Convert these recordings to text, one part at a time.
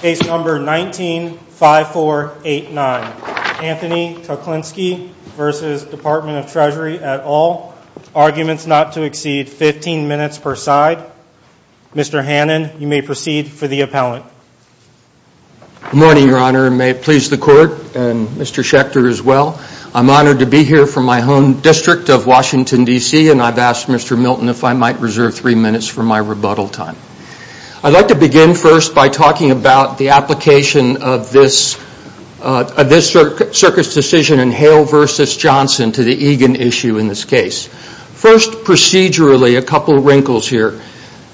Case number 19-5489. Anthony Kuklinski v. Department of Treasury et al. Arguments not to exceed 15 minutes per side. Mr. Hannon, you may proceed for the appellant. Good morning, Your Honor, and may it please the Court and Mr. Schechter as well. I'm honored to be here from my home district of Washington, D.C., and I've asked Mr. Milton if I might reserve three minutes for my rebuttal time. I'd like to begin first by talking about the application of this Circus decision in Hale v. Johnson to the Egan issue in this case. First, procedurally, a couple of wrinkles here.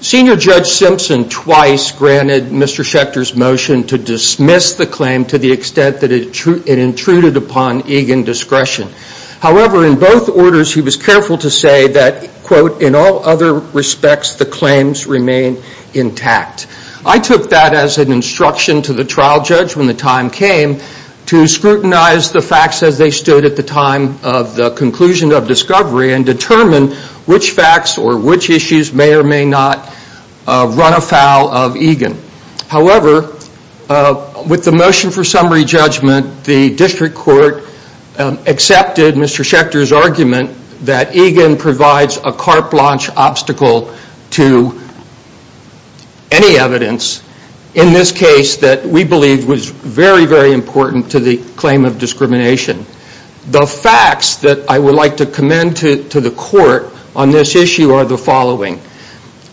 Senior Judge Simpson twice granted Mr. Schechter's motion to dismiss the claim to the extent that it intruded upon Egan discretion. However, in both orders, he was careful to say that, quote, in all other respects the claims remain intact. I took that as an instruction to the trial judge when the time came to scrutinize the facts as they stood at the time of the conclusion of discovery and determine which facts or which issues may or may not run afoul of Egan. However, with the motion for summary judgment, the district court accepted Mr. Schechter's argument that Egan provides a carte blanche obstacle to any evidence in this case that we believe was very, very important to the claim of discrimination. The facts that I would like to commend to the court on this issue are the following.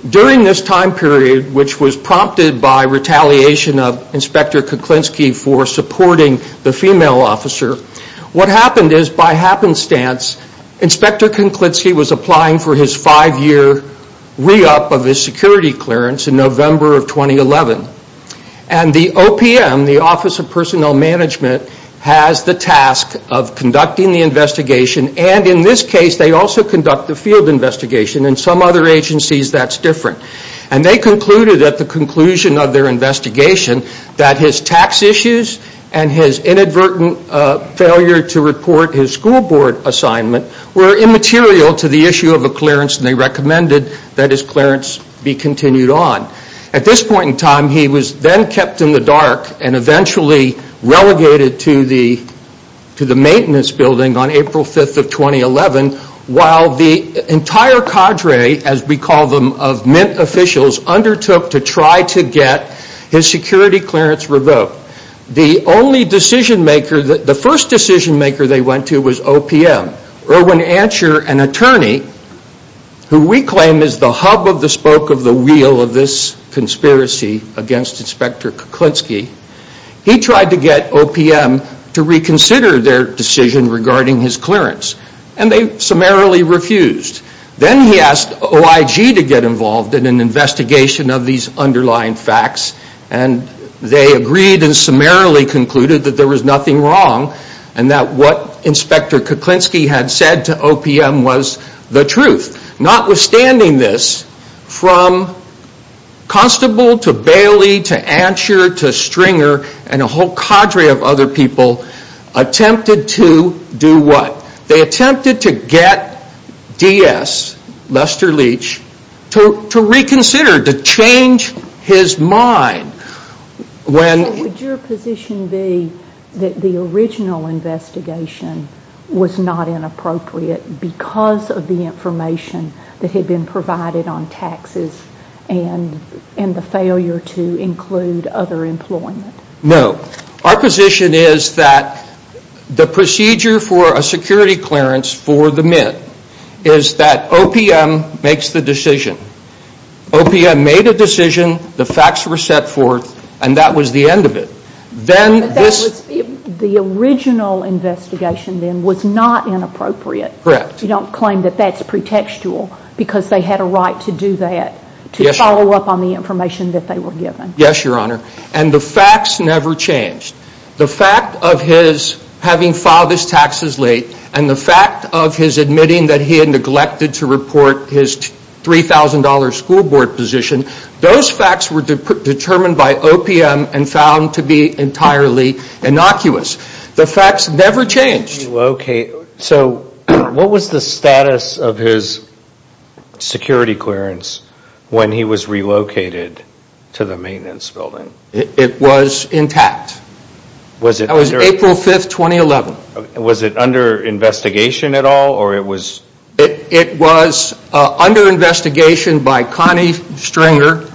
During this time period, which was prompted by retaliation of Inspector Kuklinski for supporting the female officer, what happened is, by happenstance, Inspector Kuklinski was applying for his five-year re-up of his security clearance in November of 2011. And the OPM, the Office of Personnel Management, has the task of conducting the investigation and in this case they also conduct the field investigation. In some other agencies that's different. And they concluded at the conclusion of their investigation that his tax issues and his inadvertent failure to report his school board assignment were immaterial to the issue of a clearance and they recommended that his clearance be continued on. At this point in time, he was then kept in the dark and eventually relegated to the maintenance building on April 5th of 2011 while the entire cadre, as we call them, of Mint officials undertook to try to get his security clearance revoked. The only decision maker, the first decision maker they went to was OPM. Irwin Ansher, an attorney, who we claim is the hub of the spoke of the wheel of this conspiracy against Inspector Kuklinski, he tried to get OPM to reconsider their decision regarding his clearance and they summarily refused. Then he asked OIG to get involved in an investigation of these underlying facts and they agreed and summarily concluded that there was nothing wrong and that what Inspector Kuklinski had said to OPM was the truth. Notwithstanding this, from Constable to Bailey to Ansher to Stringer and a whole cadre of other people attempted to do what? They attempted to get DS, Lester Leach, to reconsider, to change his mind. Would your position be that the original investigation was not inappropriate because of the information that had been provided on taxes and the failure to include other employment? No. Our position is that the procedure for a security clearance for the Mint is that OPM makes the decision. OPM made a decision, the facts were set forth, and that was the end of it. The original investigation then was not inappropriate. Correct. You don't claim that that's pretextual because they had a right to do that, to follow up on the information that they were given. Yes, Your Honor, and the facts never changed. The fact of his having filed his taxes late and the fact of his admitting that he had neglected to report his $3,000 school board position, those facts were determined by OPM and found to be entirely innocuous. The facts never changed. What was the status of his security clearance when he was relocated to the maintenance building? It was intact. That was April 5, 2011. Was it under investigation at all? It was under investigation by Connie Stringer,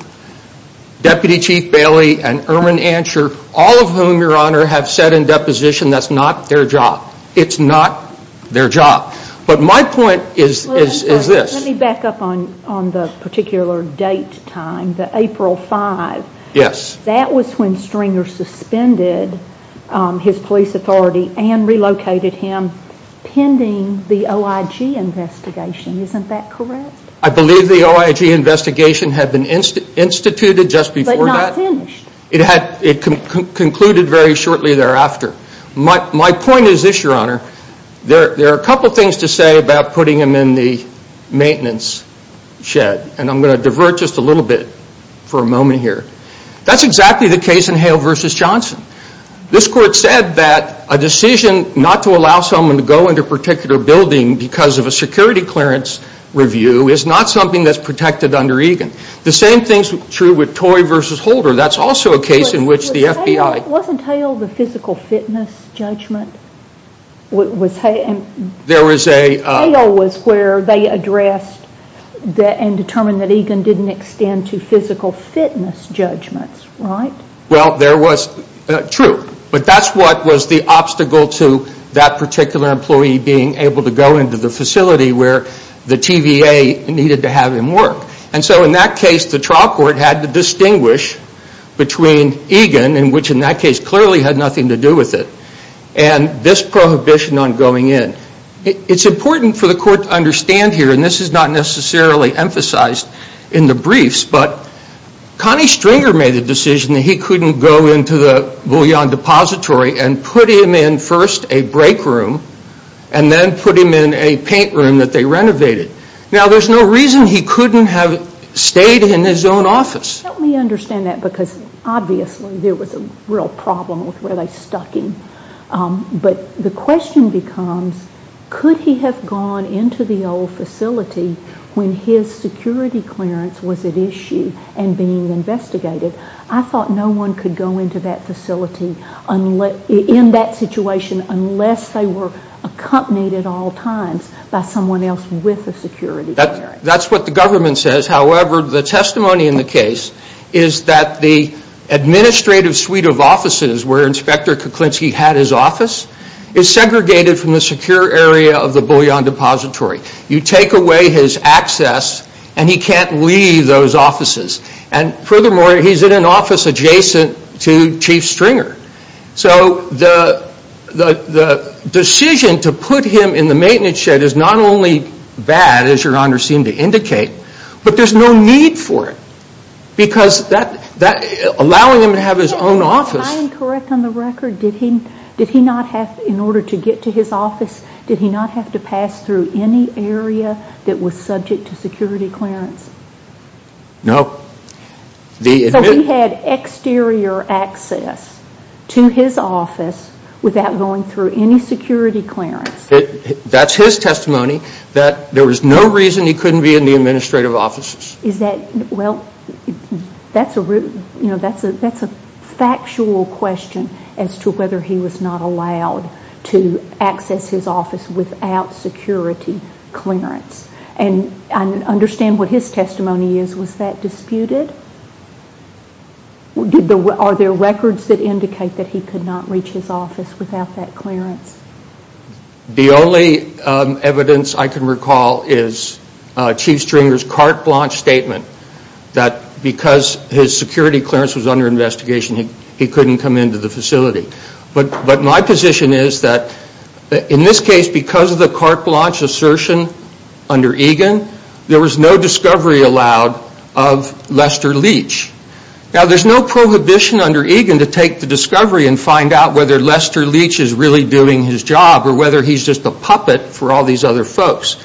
Deputy Chief Bailey, and Erwin Ansher, all of whom, Your Honor, have said in deposition that's not their job. It's not their job. But my point is this. Let me back up on the particular date time, the April 5. Yes. That was when Stringer suspended his police authority and relocated him pending the OIG investigation. Isn't that correct? I believe the OIG investigation had been instituted just before that. But not finished. It concluded very shortly thereafter. My point is this, Your Honor. There are a couple things to say about putting him in the maintenance shed, and I'm going to divert just a little bit for a moment here. That's exactly the case in Hale v. Johnson. This court said that a decision not to allow someone to go into a particular building because of a security clearance review is not something that's protected under EGAN. The same thing is true with Toye v. Holder. That's also a case in which the FBI- Wasn't Hale the physical fitness judgment? There was a- Hale was where they addressed and determined that EGAN didn't extend to physical fitness judgments, right? True. But that's what was the obstacle to that particular employee being able to go into the facility where the TVA needed to have him work. And so in that case, the trial court had to distinguish between EGAN, which in that case clearly had nothing to do with it, and this prohibition on going in. It's important for the court to understand here, and this is not necessarily emphasized in the briefs, but Connie Stringer made the decision that he couldn't go into the Bouillon Depository and put him in first a break room, and then put him in a paint room that they renovated. Now, there's no reason he couldn't have stayed in his own office. Let me understand that, because obviously there was a real problem with where they stuck him. But the question becomes, could he have gone into the old facility when his security clearance was at issue and being investigated? I thought no one could go into that facility in that situation unless they were accompanied at all times by someone else with a security clearance. That's what the government says. However, the testimony in the case is that the administrative suite of offices where Inspector Kuklinski had his office is segregated from the secure area of the Bouillon Depository. You take away his access, and he can't leave those offices. And furthermore, he's in an office adjacent to Chief Stringer. So the decision to put him in the maintenance shed is not only bad, as your Honor seemed to indicate, but there's no need for it. Because allowing him to have his own office... Am I incorrect on the record? Did he not have, in order to get to his office, did he not have to pass through any area that was subject to security clearance? No. So he had exterior access to his office without going through any security clearance? That's his testimony, that there was no reason he couldn't be in the administrative offices. Is that, well, that's a factual question as to whether he was not allowed to access his office without security clearance. And I understand what his testimony is. Was that disputed? Are there records that indicate that he could not reach his office without that clearance? The only evidence I can recall is Chief Stringer's carte blanche statement that because his security clearance was under investigation, he couldn't come into the facility. But my position is that in this case, because of the carte blanche assertion under Egan, there was no discovery allowed of Lester Leach. Now, there's no prohibition under Egan to take the discovery and find out whether Lester Leach is really doing his job or whether he's just a puppet for all these other folks.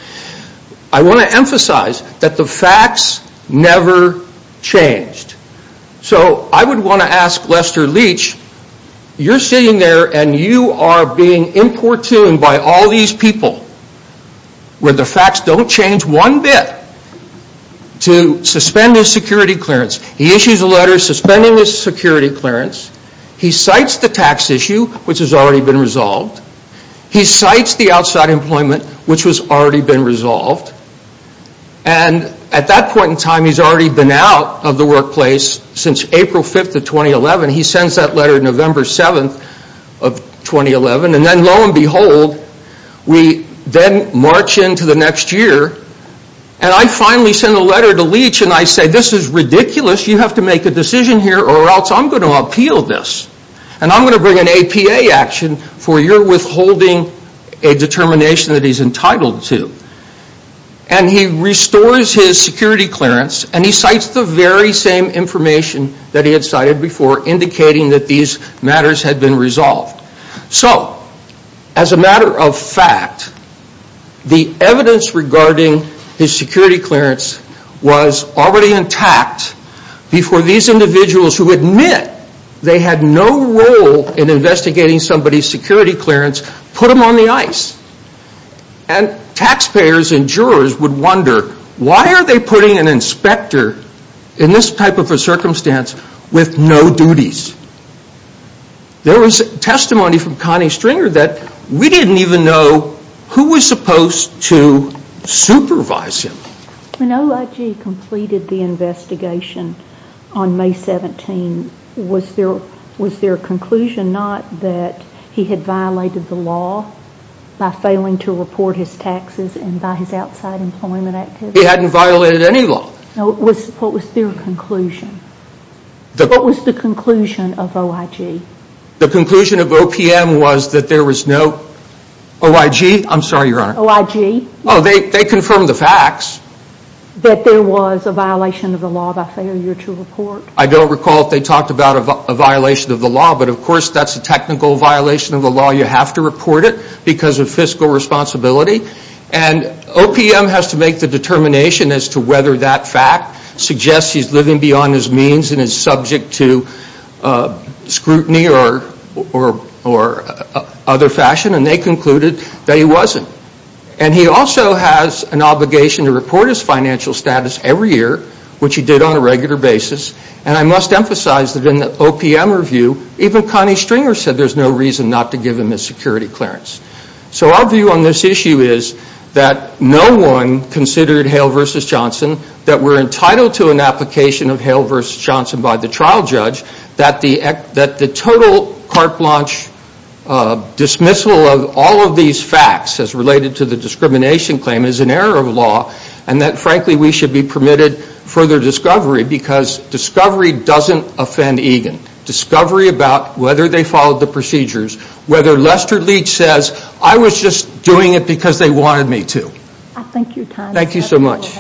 I want to emphasize that the facts never changed. So I would want to ask Lester Leach, you're sitting there and you are being importuned by all these people where the facts don't change one bit to suspend his security clearance. He issues a letter suspending his security clearance. He cites the tax issue, which has already been resolved. He cites the outside employment, which has already been resolved. And at that point in time, he's already been out of the workplace since April 5th of 2011. He sends that letter November 7th of 2011. And then lo and behold, we then march into the next year. And I finally send a letter to Leach and I say, this is ridiculous, you have to make a decision here or else I'm going to appeal this. And I'm going to bring an APA action for your withholding a determination that he's entitled to. And he restores his security clearance and he cites the very same information that he had cited before indicating that these matters had been resolved. So, as a matter of fact, the evidence regarding his security clearance was already intact before these individuals who admit they had no role in investigating somebody's security clearance put them on the ice. And taxpayers and jurors would wonder, why are they putting an inspector in this type of a circumstance with no duties? There was testimony from Connie Stringer that we didn't even know who was supposed to supervise him. When OIG completed the investigation on May 17, was there a conclusion not that he had violated the law by failing to report his taxes and by his outside employment activities? He hadn't violated any law. What was their conclusion? What was the conclusion of OIG? The conclusion of OPM was that there was no OIG. I'm sorry, Your Honor. OIG? Oh, they confirmed the facts. That there was a violation of the law by failure to report? I don't recall if they talked about a violation of the law, but of course that's a technical violation of the law. You have to report it because of fiscal responsibility. And OPM has to make the determination as to whether that fact suggests he's living beyond his means and is subject to scrutiny or other fashion. And they concluded that he wasn't. And he also has an obligation to report his financial status every year, which he did on a regular basis. And I must emphasize that in the OPM review, even Connie Stringer said there's no reason not to give him a security clearance. So our view on this issue is that no one considered Hale v. Johnson, that we're entitled to an application of Hale v. Johnson by the trial judge, that the total carte blanche dismissal of all of these facts as related to the discrimination claim is an error of law, and that frankly we should be permitted further discovery because discovery doesn't offend Egan. Discovery about whether they followed the procedures, whether Lester Leach says I was just doing it because they wanted me to. Thank you, Tom. Thank you so much.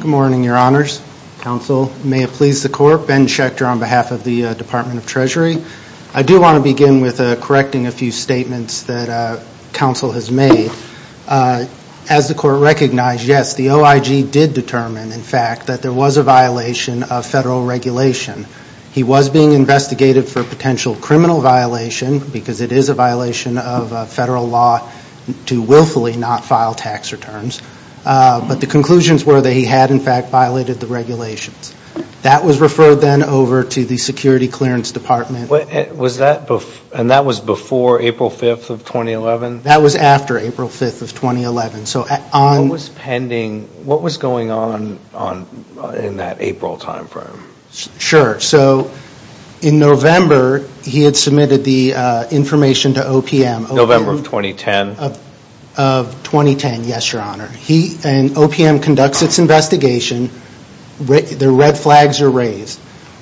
Good morning, Your Honors. Counsel, may it please the Court. Ben Schechter on behalf of the Department of Treasury. I do want to begin with correcting a few statements that counsel has made. As the Court recognized, yes, the OIG did determine, in fact, that there was a violation of federal regulation. He was being investigated for a potential criminal violation, because it is a violation of federal law to willfully not file tax returns. But the conclusions were that he had, in fact, violated the regulations. That was referred then over to the Security Clearance Department. And that was before April 5th of 2011? That was after April 5th of 2011. What was going on in that April time frame? Sure. So in November, he had submitted the information to OPM. November of 2010? Of 2010, yes, Your Honor. And OPM conducts its investigation. The red flags are raised.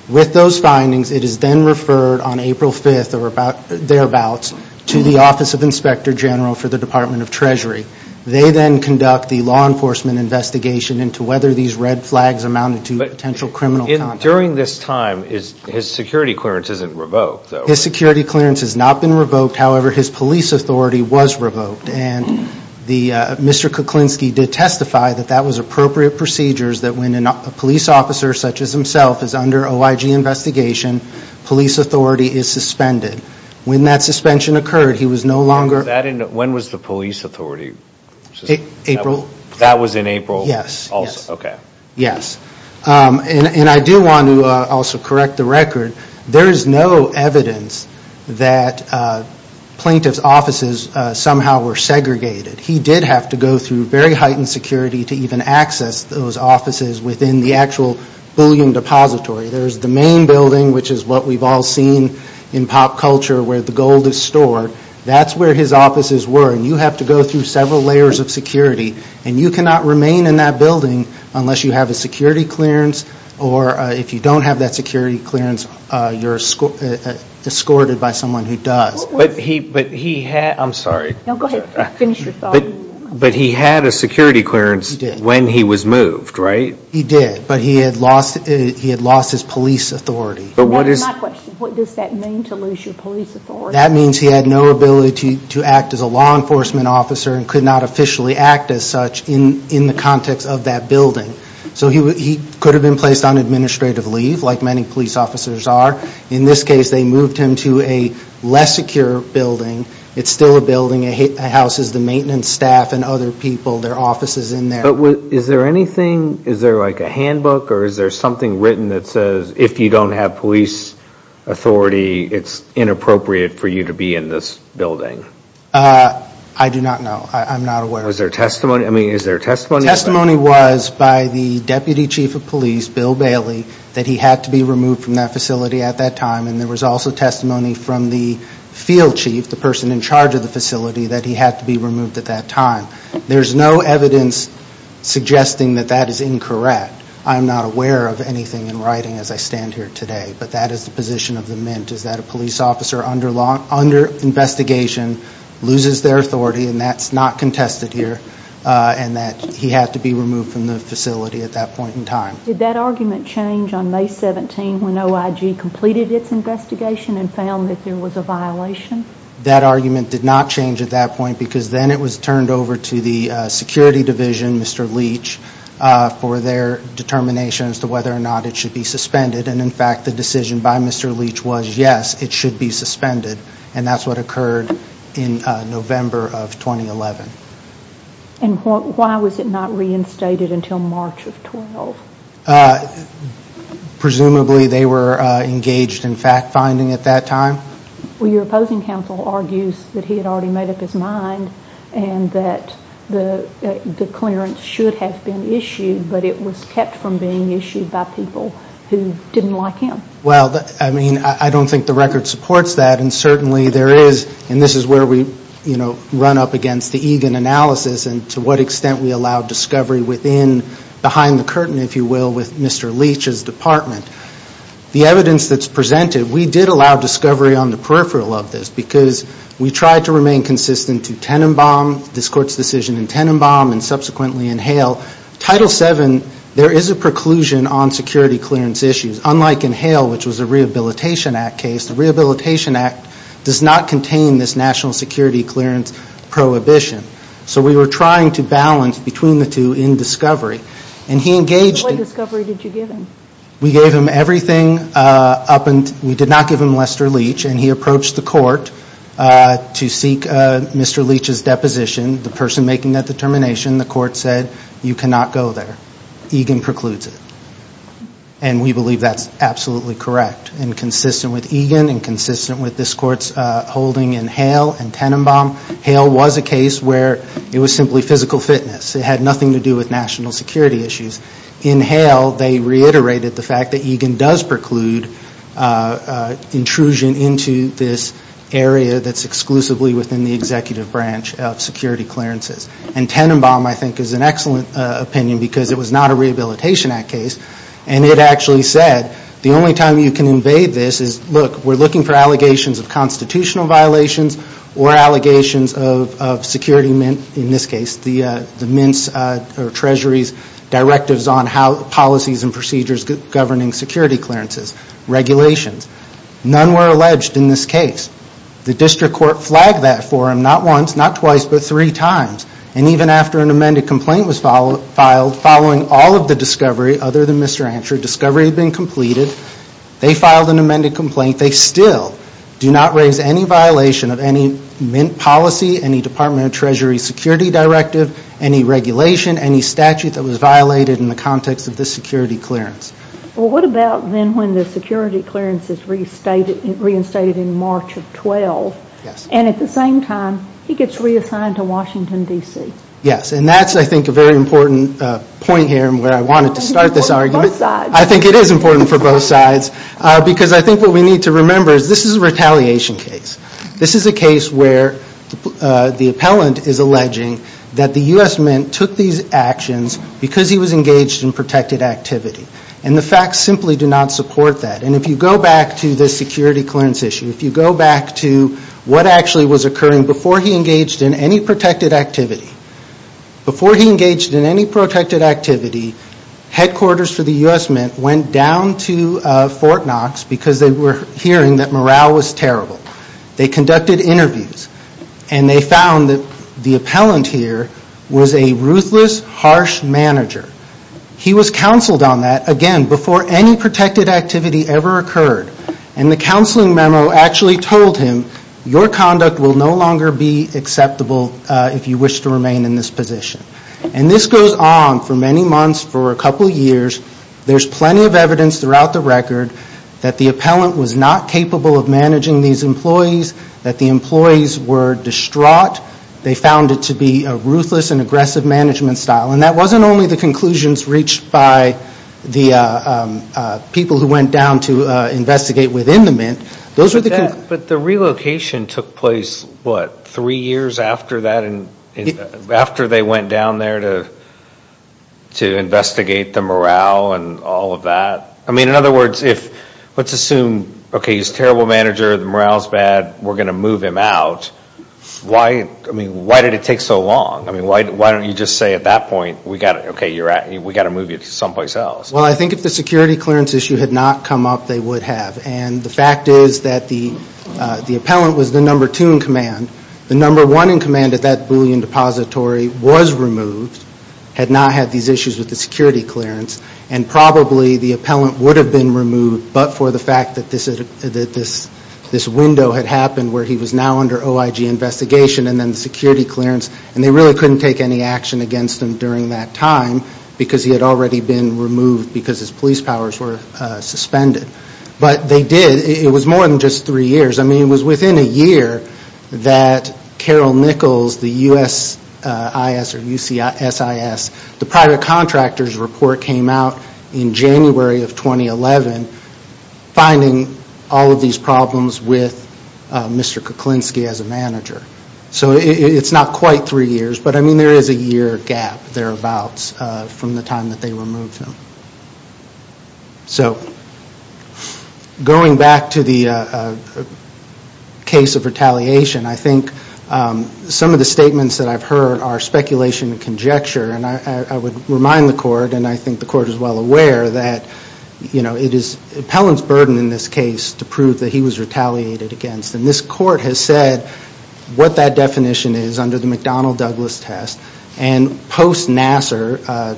With those findings, it is then referred on April 5th or thereabouts to the Office of Inspector General for the Department of Treasury. They then conduct the law enforcement investigation into whether these red flags amounted to potential criminal conduct. During this time, his security clearance isn't revoked, though, right? His security clearance has not been revoked. However, his police authority was revoked. And Mr. Kuklinski did testify that that was appropriate procedures that when a police officer, such as himself, is under OIG investigation, police authority is suspended. When that suspension occurred, he was no longer- When was the police authority? April. That was in April? Yes. Okay. Yes. And I do want to also correct the record. There is no evidence that plaintiff's offices somehow were segregated. He did have to go through very heightened security to even access those offices within the actual bullion depository. There's the main building, which is what we've all seen in pop culture, where the gold is stored. That's where his offices were. And you have to go through several layers of security. And you cannot remain in that building unless you have a security clearance. Or if you don't have that security clearance, you're escorted by someone who does. But he had- I'm sorry. No, go ahead. Finish your thought. But he had a security clearance when he was moved, right? He did. But he had lost his police authority. That is my question. What does that mean, to lose your police authority? That means he had no ability to act as a law enforcement officer and could not officially act as such in the context of that building. So he could have been placed on administrative leave, like many police officers are. In this case, they moved him to a less secure building. It's still a building. It houses the maintenance staff and other people. There are offices in there. But is there anything, is there like a handbook, or is there something written that says if you don't have police authority, it's inappropriate for you to be in this building? I do not know. I'm not aware of that. Is there testimony? I mean, is there testimony? Testimony was by the deputy chief of police, Bill Bailey, that he had to be removed from that facility at that time. And there was also testimony from the field chief, the person in charge of the facility, that he had to be removed at that time. There's no evidence suggesting that that is incorrect. I'm not aware of anything in writing as I stand here today. But that is the position of the Mint, is that a police officer under investigation loses their authority, and that's not contested here, and that he had to be removed from the facility at that point in time. Did that argument change on May 17 when OIG completed its investigation and found that there was a violation? That argument did not change at that point because then it was turned over to the security division, Mr. Leach, for their determination as to whether or not it should be suspended. And, in fact, the decision by Mr. Leach was, yes, it should be suspended. And that's what occurred in November of 2011. And why was it not reinstated until March of 12? Presumably they were engaged in fact-finding at that time. Well, your opposing counsel argues that he had already made up his mind and that the clearance should have been issued, but it was kept from being issued by people who didn't like him. Well, I mean, I don't think the record supports that, and certainly there is, and this is where we run up against the Egan analysis and to what extent we allow discovery within, behind the curtain, if you will, with Mr. Leach's department. The evidence that's presented, we did allow discovery on the peripheral of this because we tried to remain consistent to Tenenbaum, this Court's decision in Tenenbaum, and subsequently in Hale. Title VII, there is a preclusion on security clearance issues. Unlike in Hale, which was a Rehabilitation Act case, the Rehabilitation Act does not contain this national security clearance prohibition. So we were trying to balance between the two in discovery, and he engaged in it. What discovery did you give him? We gave him everything up until we did not give him Lester Leach, and he approached the Court to seek Mr. Leach's deposition. The person making that determination, the Court said, you cannot go there. Egan precludes it, and we believe that's absolutely correct and consistent with Egan and consistent with this Court's holding in Hale and Tenenbaum. Hale was a case where it was simply physical fitness. It had nothing to do with national security issues. In Hale, they reiterated the fact that Egan does preclude intrusion into this area that's exclusively within the executive branch of security clearances. And Tenenbaum, I think, is an excellent opinion because it was not a Rehabilitation Act case, and it actually said the only time you can invade this is, look, we're looking for allegations of constitutional violations or allegations of security, in this case, the Mint's or Treasury's directives on policies and procedures governing security clearances, regulations. None were alleged in this case. The District Court flagged that for them not once, not twice, but three times. And even after an amended complaint was filed, following all of the discovery other than Mr. Ansher, discovery had been completed, they filed an amended complaint, they still do not raise any violation of any Mint policy, any Department of Treasury security directive, any regulation, any statute that was violated in the context of this security clearance. Well, what about then when the security clearance is reinstated in March of 12, and at the same time, he gets reassigned to Washington, D.C.? Yes, and that's, I think, a very important point here and where I wanted to start this argument. I think it is important for both sides because I think what we need to remember is this is a retaliation case. This is a case where the appellant is alleging that the U.S. Mint took these actions because he was engaged in protected activity. And the facts simply do not support that. And if you go back to the security clearance issue, if you go back to what actually was occurring before he engaged in any protected activity, before he engaged in any protected activity, headquarters for the U.S. Mint went down to Fort Knox because they were hearing that morale was terrible. They conducted interviews, and they found that the appellant here was a ruthless, harsh manager. He was counseled on that, again, before any protected activity ever occurred. And the counseling memo actually told him, your conduct will no longer be acceptable if you wish to remain in this position. And this goes on for many months, for a couple years. There's plenty of evidence throughout the record that the appellant was not capable of managing these employees, that the employees were distraught. They found it to be a ruthless and aggressive management style. And that wasn't only the conclusions reached by the people who went down to investigate within the Mint. Those were the conclusions. But the relocation took place, what, three years after that? After they went down there to investigate the morale and all of that? I mean, in other words, let's assume, okay, he's a terrible manager, the morale's bad, we're going to move him out. Why did it take so long? I mean, why don't you just say at that point, okay, we've got to move you to someplace else? Well, I think if the security clearance issue had not come up, they would have. And the fact is that the appellant was the number two in command. The number one in command at that Boolean depository was removed, had not had these issues with the security clearance. And probably the appellant would have been removed, but for the fact that this window had happened where he was now under OIG investigation and then the security clearance. And they really couldn't take any action against him during that time because he had already been removed because his police powers were suspended. But they did. It was more than just three years. I mean, it was within a year that Carol Nichols, the USIS or UCSIS, the private contractor's report came out in January of 2011, finding all of these problems with Mr. Kuklinski as a manager. So it's not quite three years, but I mean there is a year gap thereabouts from the time that they removed him. So going back to the case of retaliation, I think some of the statements that I've heard are speculation and conjecture. And I would remind the court, and I think the court is well aware, that it is the appellant's burden in this case to prove that he was retaliated against. And this court has said what that definition is under the McDonnell-Douglas test. And post-Nassar,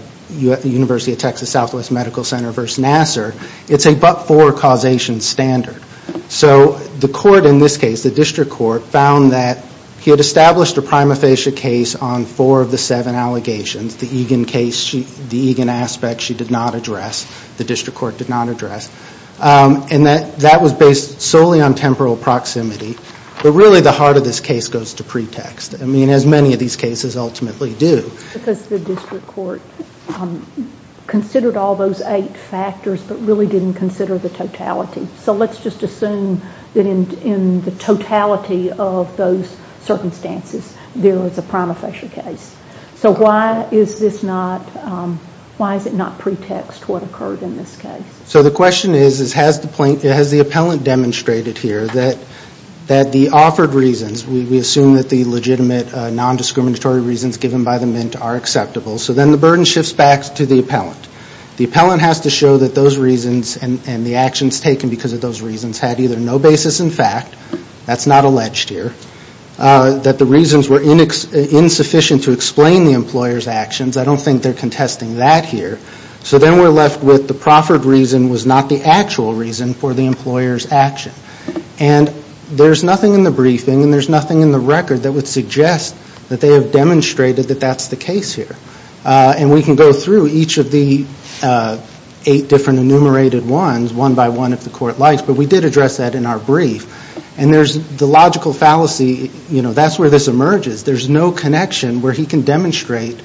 University of Texas Southwest Medical Center versus Nassar, it's a but-for causation standard. So the court in this case, the district court, found that he had established a prima facie case on four of the seven allegations, the Egan case, the Egan aspect she did not address, the district court did not address. And that was based solely on temporal proximity. But really the heart of this case goes to pretext. I mean, as many of these cases ultimately do. Because the district court considered all those eight factors, but really didn't consider the totality. So let's just assume that in the totality of those circumstances, there was a prima facie case. So why is this not, why is it not pretext what occurred in this case? So the question is, has the appellant demonstrated here that the offered reasons, we assume that the legitimate non-discriminatory reasons given by the Mint are acceptable. So then the burden shifts back to the appellant. The appellant has to show that those reasons and the actions taken because of those reasons had either no basis in fact, that's not alleged here, that the reasons were insufficient to explain the employer's actions. I don't think they're contesting that here. So then we're left with the proffered reason was not the actual reason for the employer's action. And there's nothing in the briefing and there's nothing in the record that would suggest that they have demonstrated that that's the case here. And we can go through each of the eight different enumerated ones, one by one if the court likes, but we did address that in our brief. And there's the logical fallacy, you know, that's where this emerges. There's no connection where he can demonstrate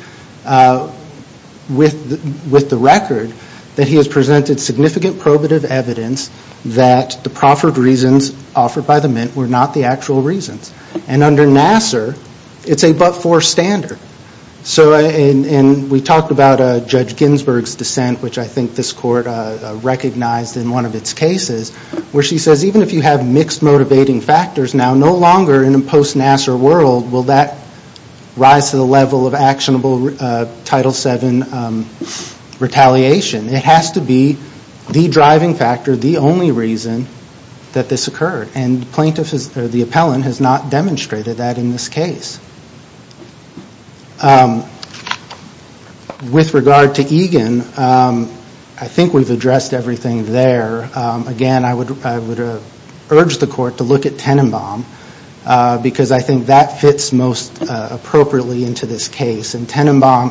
with the record that he has presented significant probative evidence that the proffered reasons offered by the Mint were not the actual reasons. And under Nassar, it's a but-for standard. So and we talked about Judge Ginsburg's dissent, which I think this court recognized in one of its cases, where she says even if you have mixed motivating factors now, no longer in a post-Nassar world will that rise to the level of actionable Title VII retaliation. It has to be the driving factor, the only reason that this occurred. And the plaintiff or the appellant has not demonstrated that in this case. With regard to Egan, I think we've addressed everything there. Again, I would urge the court to look at Tenenbaum, because I think that fits most appropriately into this case. And Tenenbaum,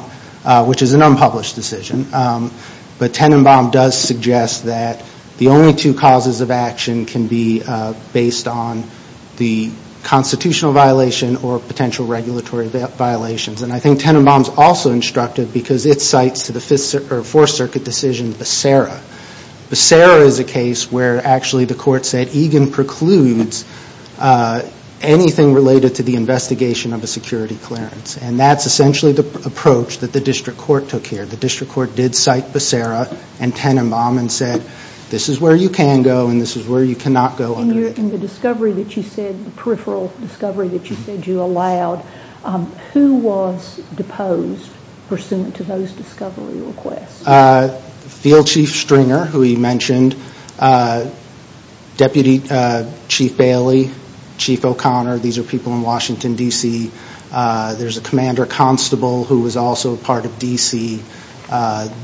which is an unpublished decision, but Tenenbaum does suggest that the only two causes of action can be based on the constitutional violation or potential regulatory violations. And I think Tenenbaum is also instructive, because it cites to the Fourth Circuit decision, Becerra. Becerra is a case where actually the court said, Egan precludes anything related to the investigation of a security clearance. And that's essentially the approach that the District Court took here. The District Court did cite Becerra and Tenenbaum and said, this is where you can go and this is where you cannot go. In the discovery that you said, the peripheral discovery that you said you allowed, who was deposed pursuant to those discovery requests? Field Chief Stringer, who you mentioned, Deputy Chief Bailey, Chief O'Connor. These are people in Washington, D.C. There's a commander constable who was also part of D.C.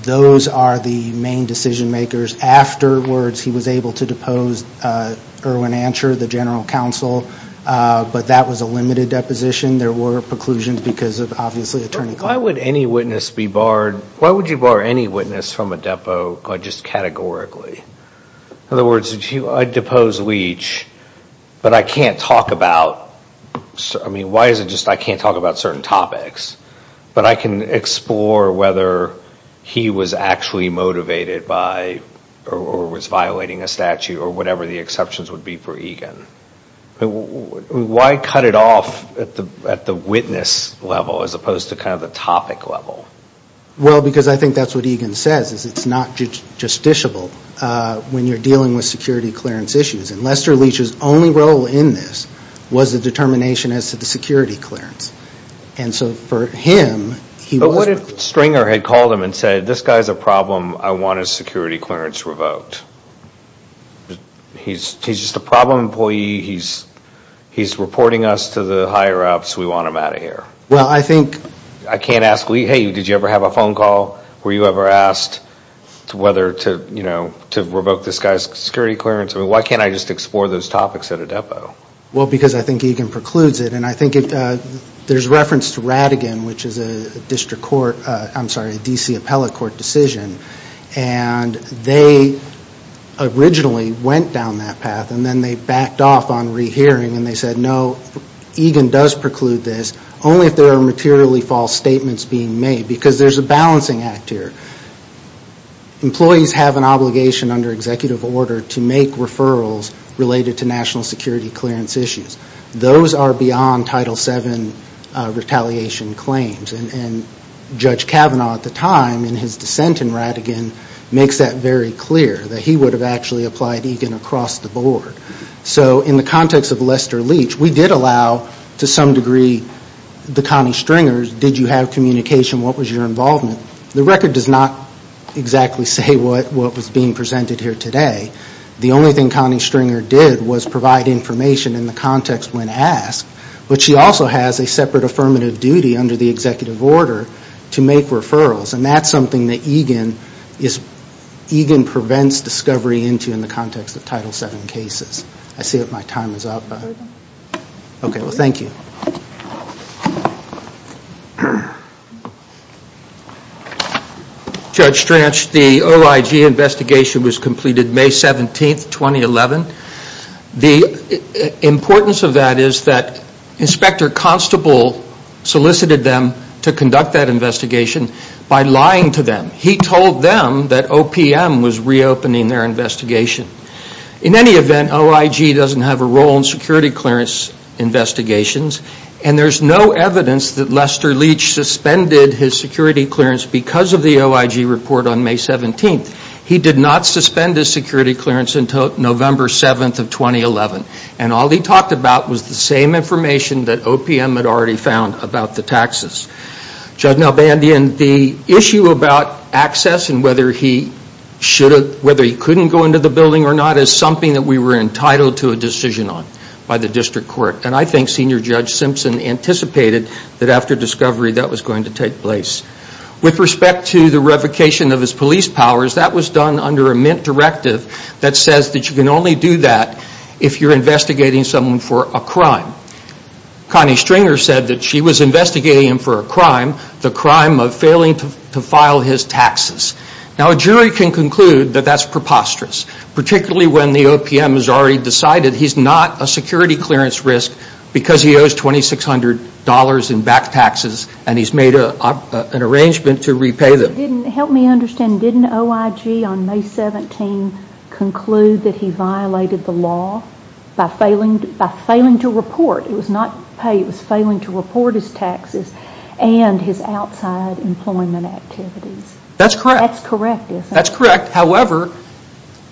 Those are the main decision-makers. Afterwards, he was able to depose Irwin Ansher, the general counsel, but that was a limited deposition. There were preclusions because of, obviously, attorney claims. Why would any witness be barred? Why would you bar any witness from a depot just categorically? In other words, I'd depose Leach, but I can't talk about, I mean, why is it just I can't talk about certain topics, but I can explore whether he was actually motivated by, or was violating a statute, or whatever the exceptions would be for Egan. Why cut it off at the witness level as opposed to kind of the topic level? Well, because I think that's what Egan says, is it's not justiciable when you're dealing with security clearance issues. And Lester Leach's only role in this was the determination as to the security clearance. And so for him, he wasn't. But what if Stringer had called him and said, this guy's a problem, I want his security clearance revoked? He's just a problem employee, he's reporting us to the higher-ups, we want him out of here. Well, I think. I can't ask, hey, did you ever have a phone call? Were you ever asked whether to revoke this guy's security clearance? I mean, why can't I just explore those topics at a depot? Well, because I think Egan precludes it, and I think there's reference to Rattigan, which is a district court, I'm sorry, a D.C. appellate court decision. And they originally went down that path, and then they backed off on rehearing, and they said, no, Egan does preclude this, only if there are materially false statements being made, because there's a balancing act here. Employees have an obligation under executive order to make referrals related to national security clearance issues. Those are beyond Title VII retaliation claims. And Judge Kavanaugh at the time, in his dissent in Rattigan, makes that very clear, that he would have actually applied Egan across the board. So in the context of Lester Leach, we did allow, to some degree, the Connie Stringer, did you have communication, what was your involvement? The record does not exactly say what was being presented here today. The only thing Connie Stringer did was provide information in the context when asked, but she also has a separate affirmative duty under the executive order to make referrals, and that's something that Egan prevents discovery into in the context of Title VII cases. I see that my time is up. Okay, well thank you. Judge Stranch, the OIG investigation was completed May 17, 2011. The importance of that is that Inspector Constable solicited them to conduct that investigation by lying to them. He told them that OPM was reopening their investigation. In any event, OIG doesn't have a role in security clearance investigations, and there's no evidence that Lester Leach suspended his security clearance because of the OIG report on May 17. He did not suspend his security clearance until November 7, 2011, and all he talked about was the same information that OPM had already found about the taxes. Judge Nalbandian, the issue about access and whether he couldn't go into the building or not is something that we were entitled to a decision on by the district court, and I think Senior Judge Simpson anticipated that after discovery that was going to take place. With respect to the revocation of his police powers, that was done under a mint directive that says that you can only do that if you're investigating someone for a crime. Connie Stringer said that she was investigating him for a crime, the crime of failing to file his taxes. Now, a jury can conclude that that's preposterous, particularly when the OPM has already decided he's not a security clearance risk because he owes $2,600 in back taxes and he's made an arrangement to repay them. Help me understand, didn't OIG on May 17 conclude that he violated the law by failing to report? It was not pay, it was failing to report his taxes and his outside employment activities. That's correct. That's correct, isn't it? That's correct, however,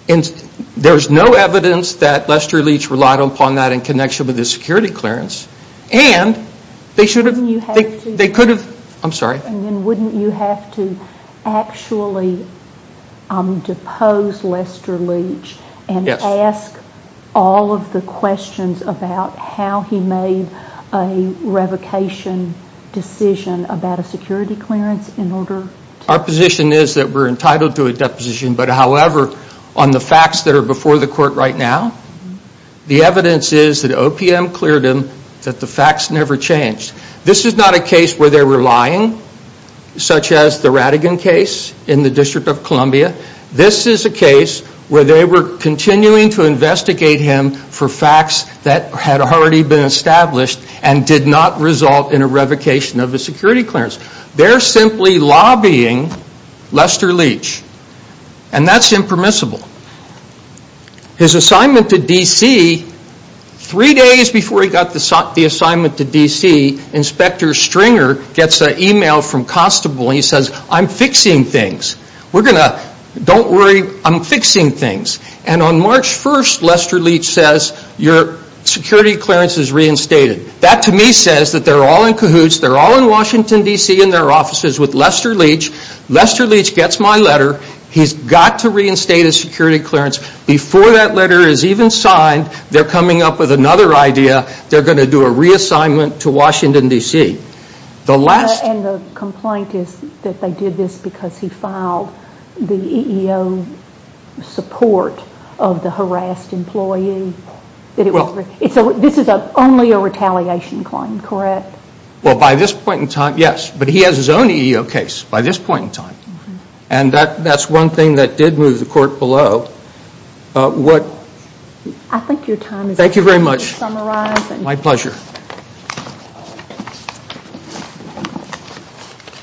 there's no evidence that Lester Leach relied upon that in connection with his security clearance, and they should have, they could have, I'm sorry. Wouldn't you have to actually depose Lester Leach and ask all of the questions about how he made a revocation decision about a security clearance in order to... Our position is that we're entitled to a deposition, but however, on the facts that are before the court right now, the evidence is that OPM cleared him, that the facts never changed. This is not a case where they're relying, such as the Rattigan case in the District of Columbia. This is a case where they were continuing to investigate him for facts that had already been established and did not result in a revocation of a security clearance. They're simply lobbying Lester Leach, and that's impermissible. His assignment to D.C., three days before he got the assignment to D.C., Inspector Stringer gets an email from Constable, and he says, I'm fixing things. We're going to, don't worry, I'm fixing things. And on March 1st, Lester Leach says, your security clearance is reinstated. That, to me, says that they're all in cahoots, they're all in Washington, D.C., in their offices with Lester Leach. Lester Leach gets my letter. He's got to reinstate his security clearance. Before that letter is even signed, they're coming up with another idea. They're going to do a reassignment to Washington, D.C. And the complaint is that they did this because he filed the EEO support of the harassed employee. So this is only a retaliation claim, correct? Well, by this point in time, yes. But he has his own EEO case by this point in time. And that's one thing that did move the court below. I think your time is up. Thank you very much. To summarize. My pleasure.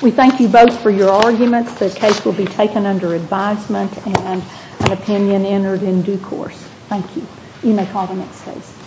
We thank you both for your arguments. The case will be taken under advisement and an opinion entered in due course. Thank you. You may call the next case.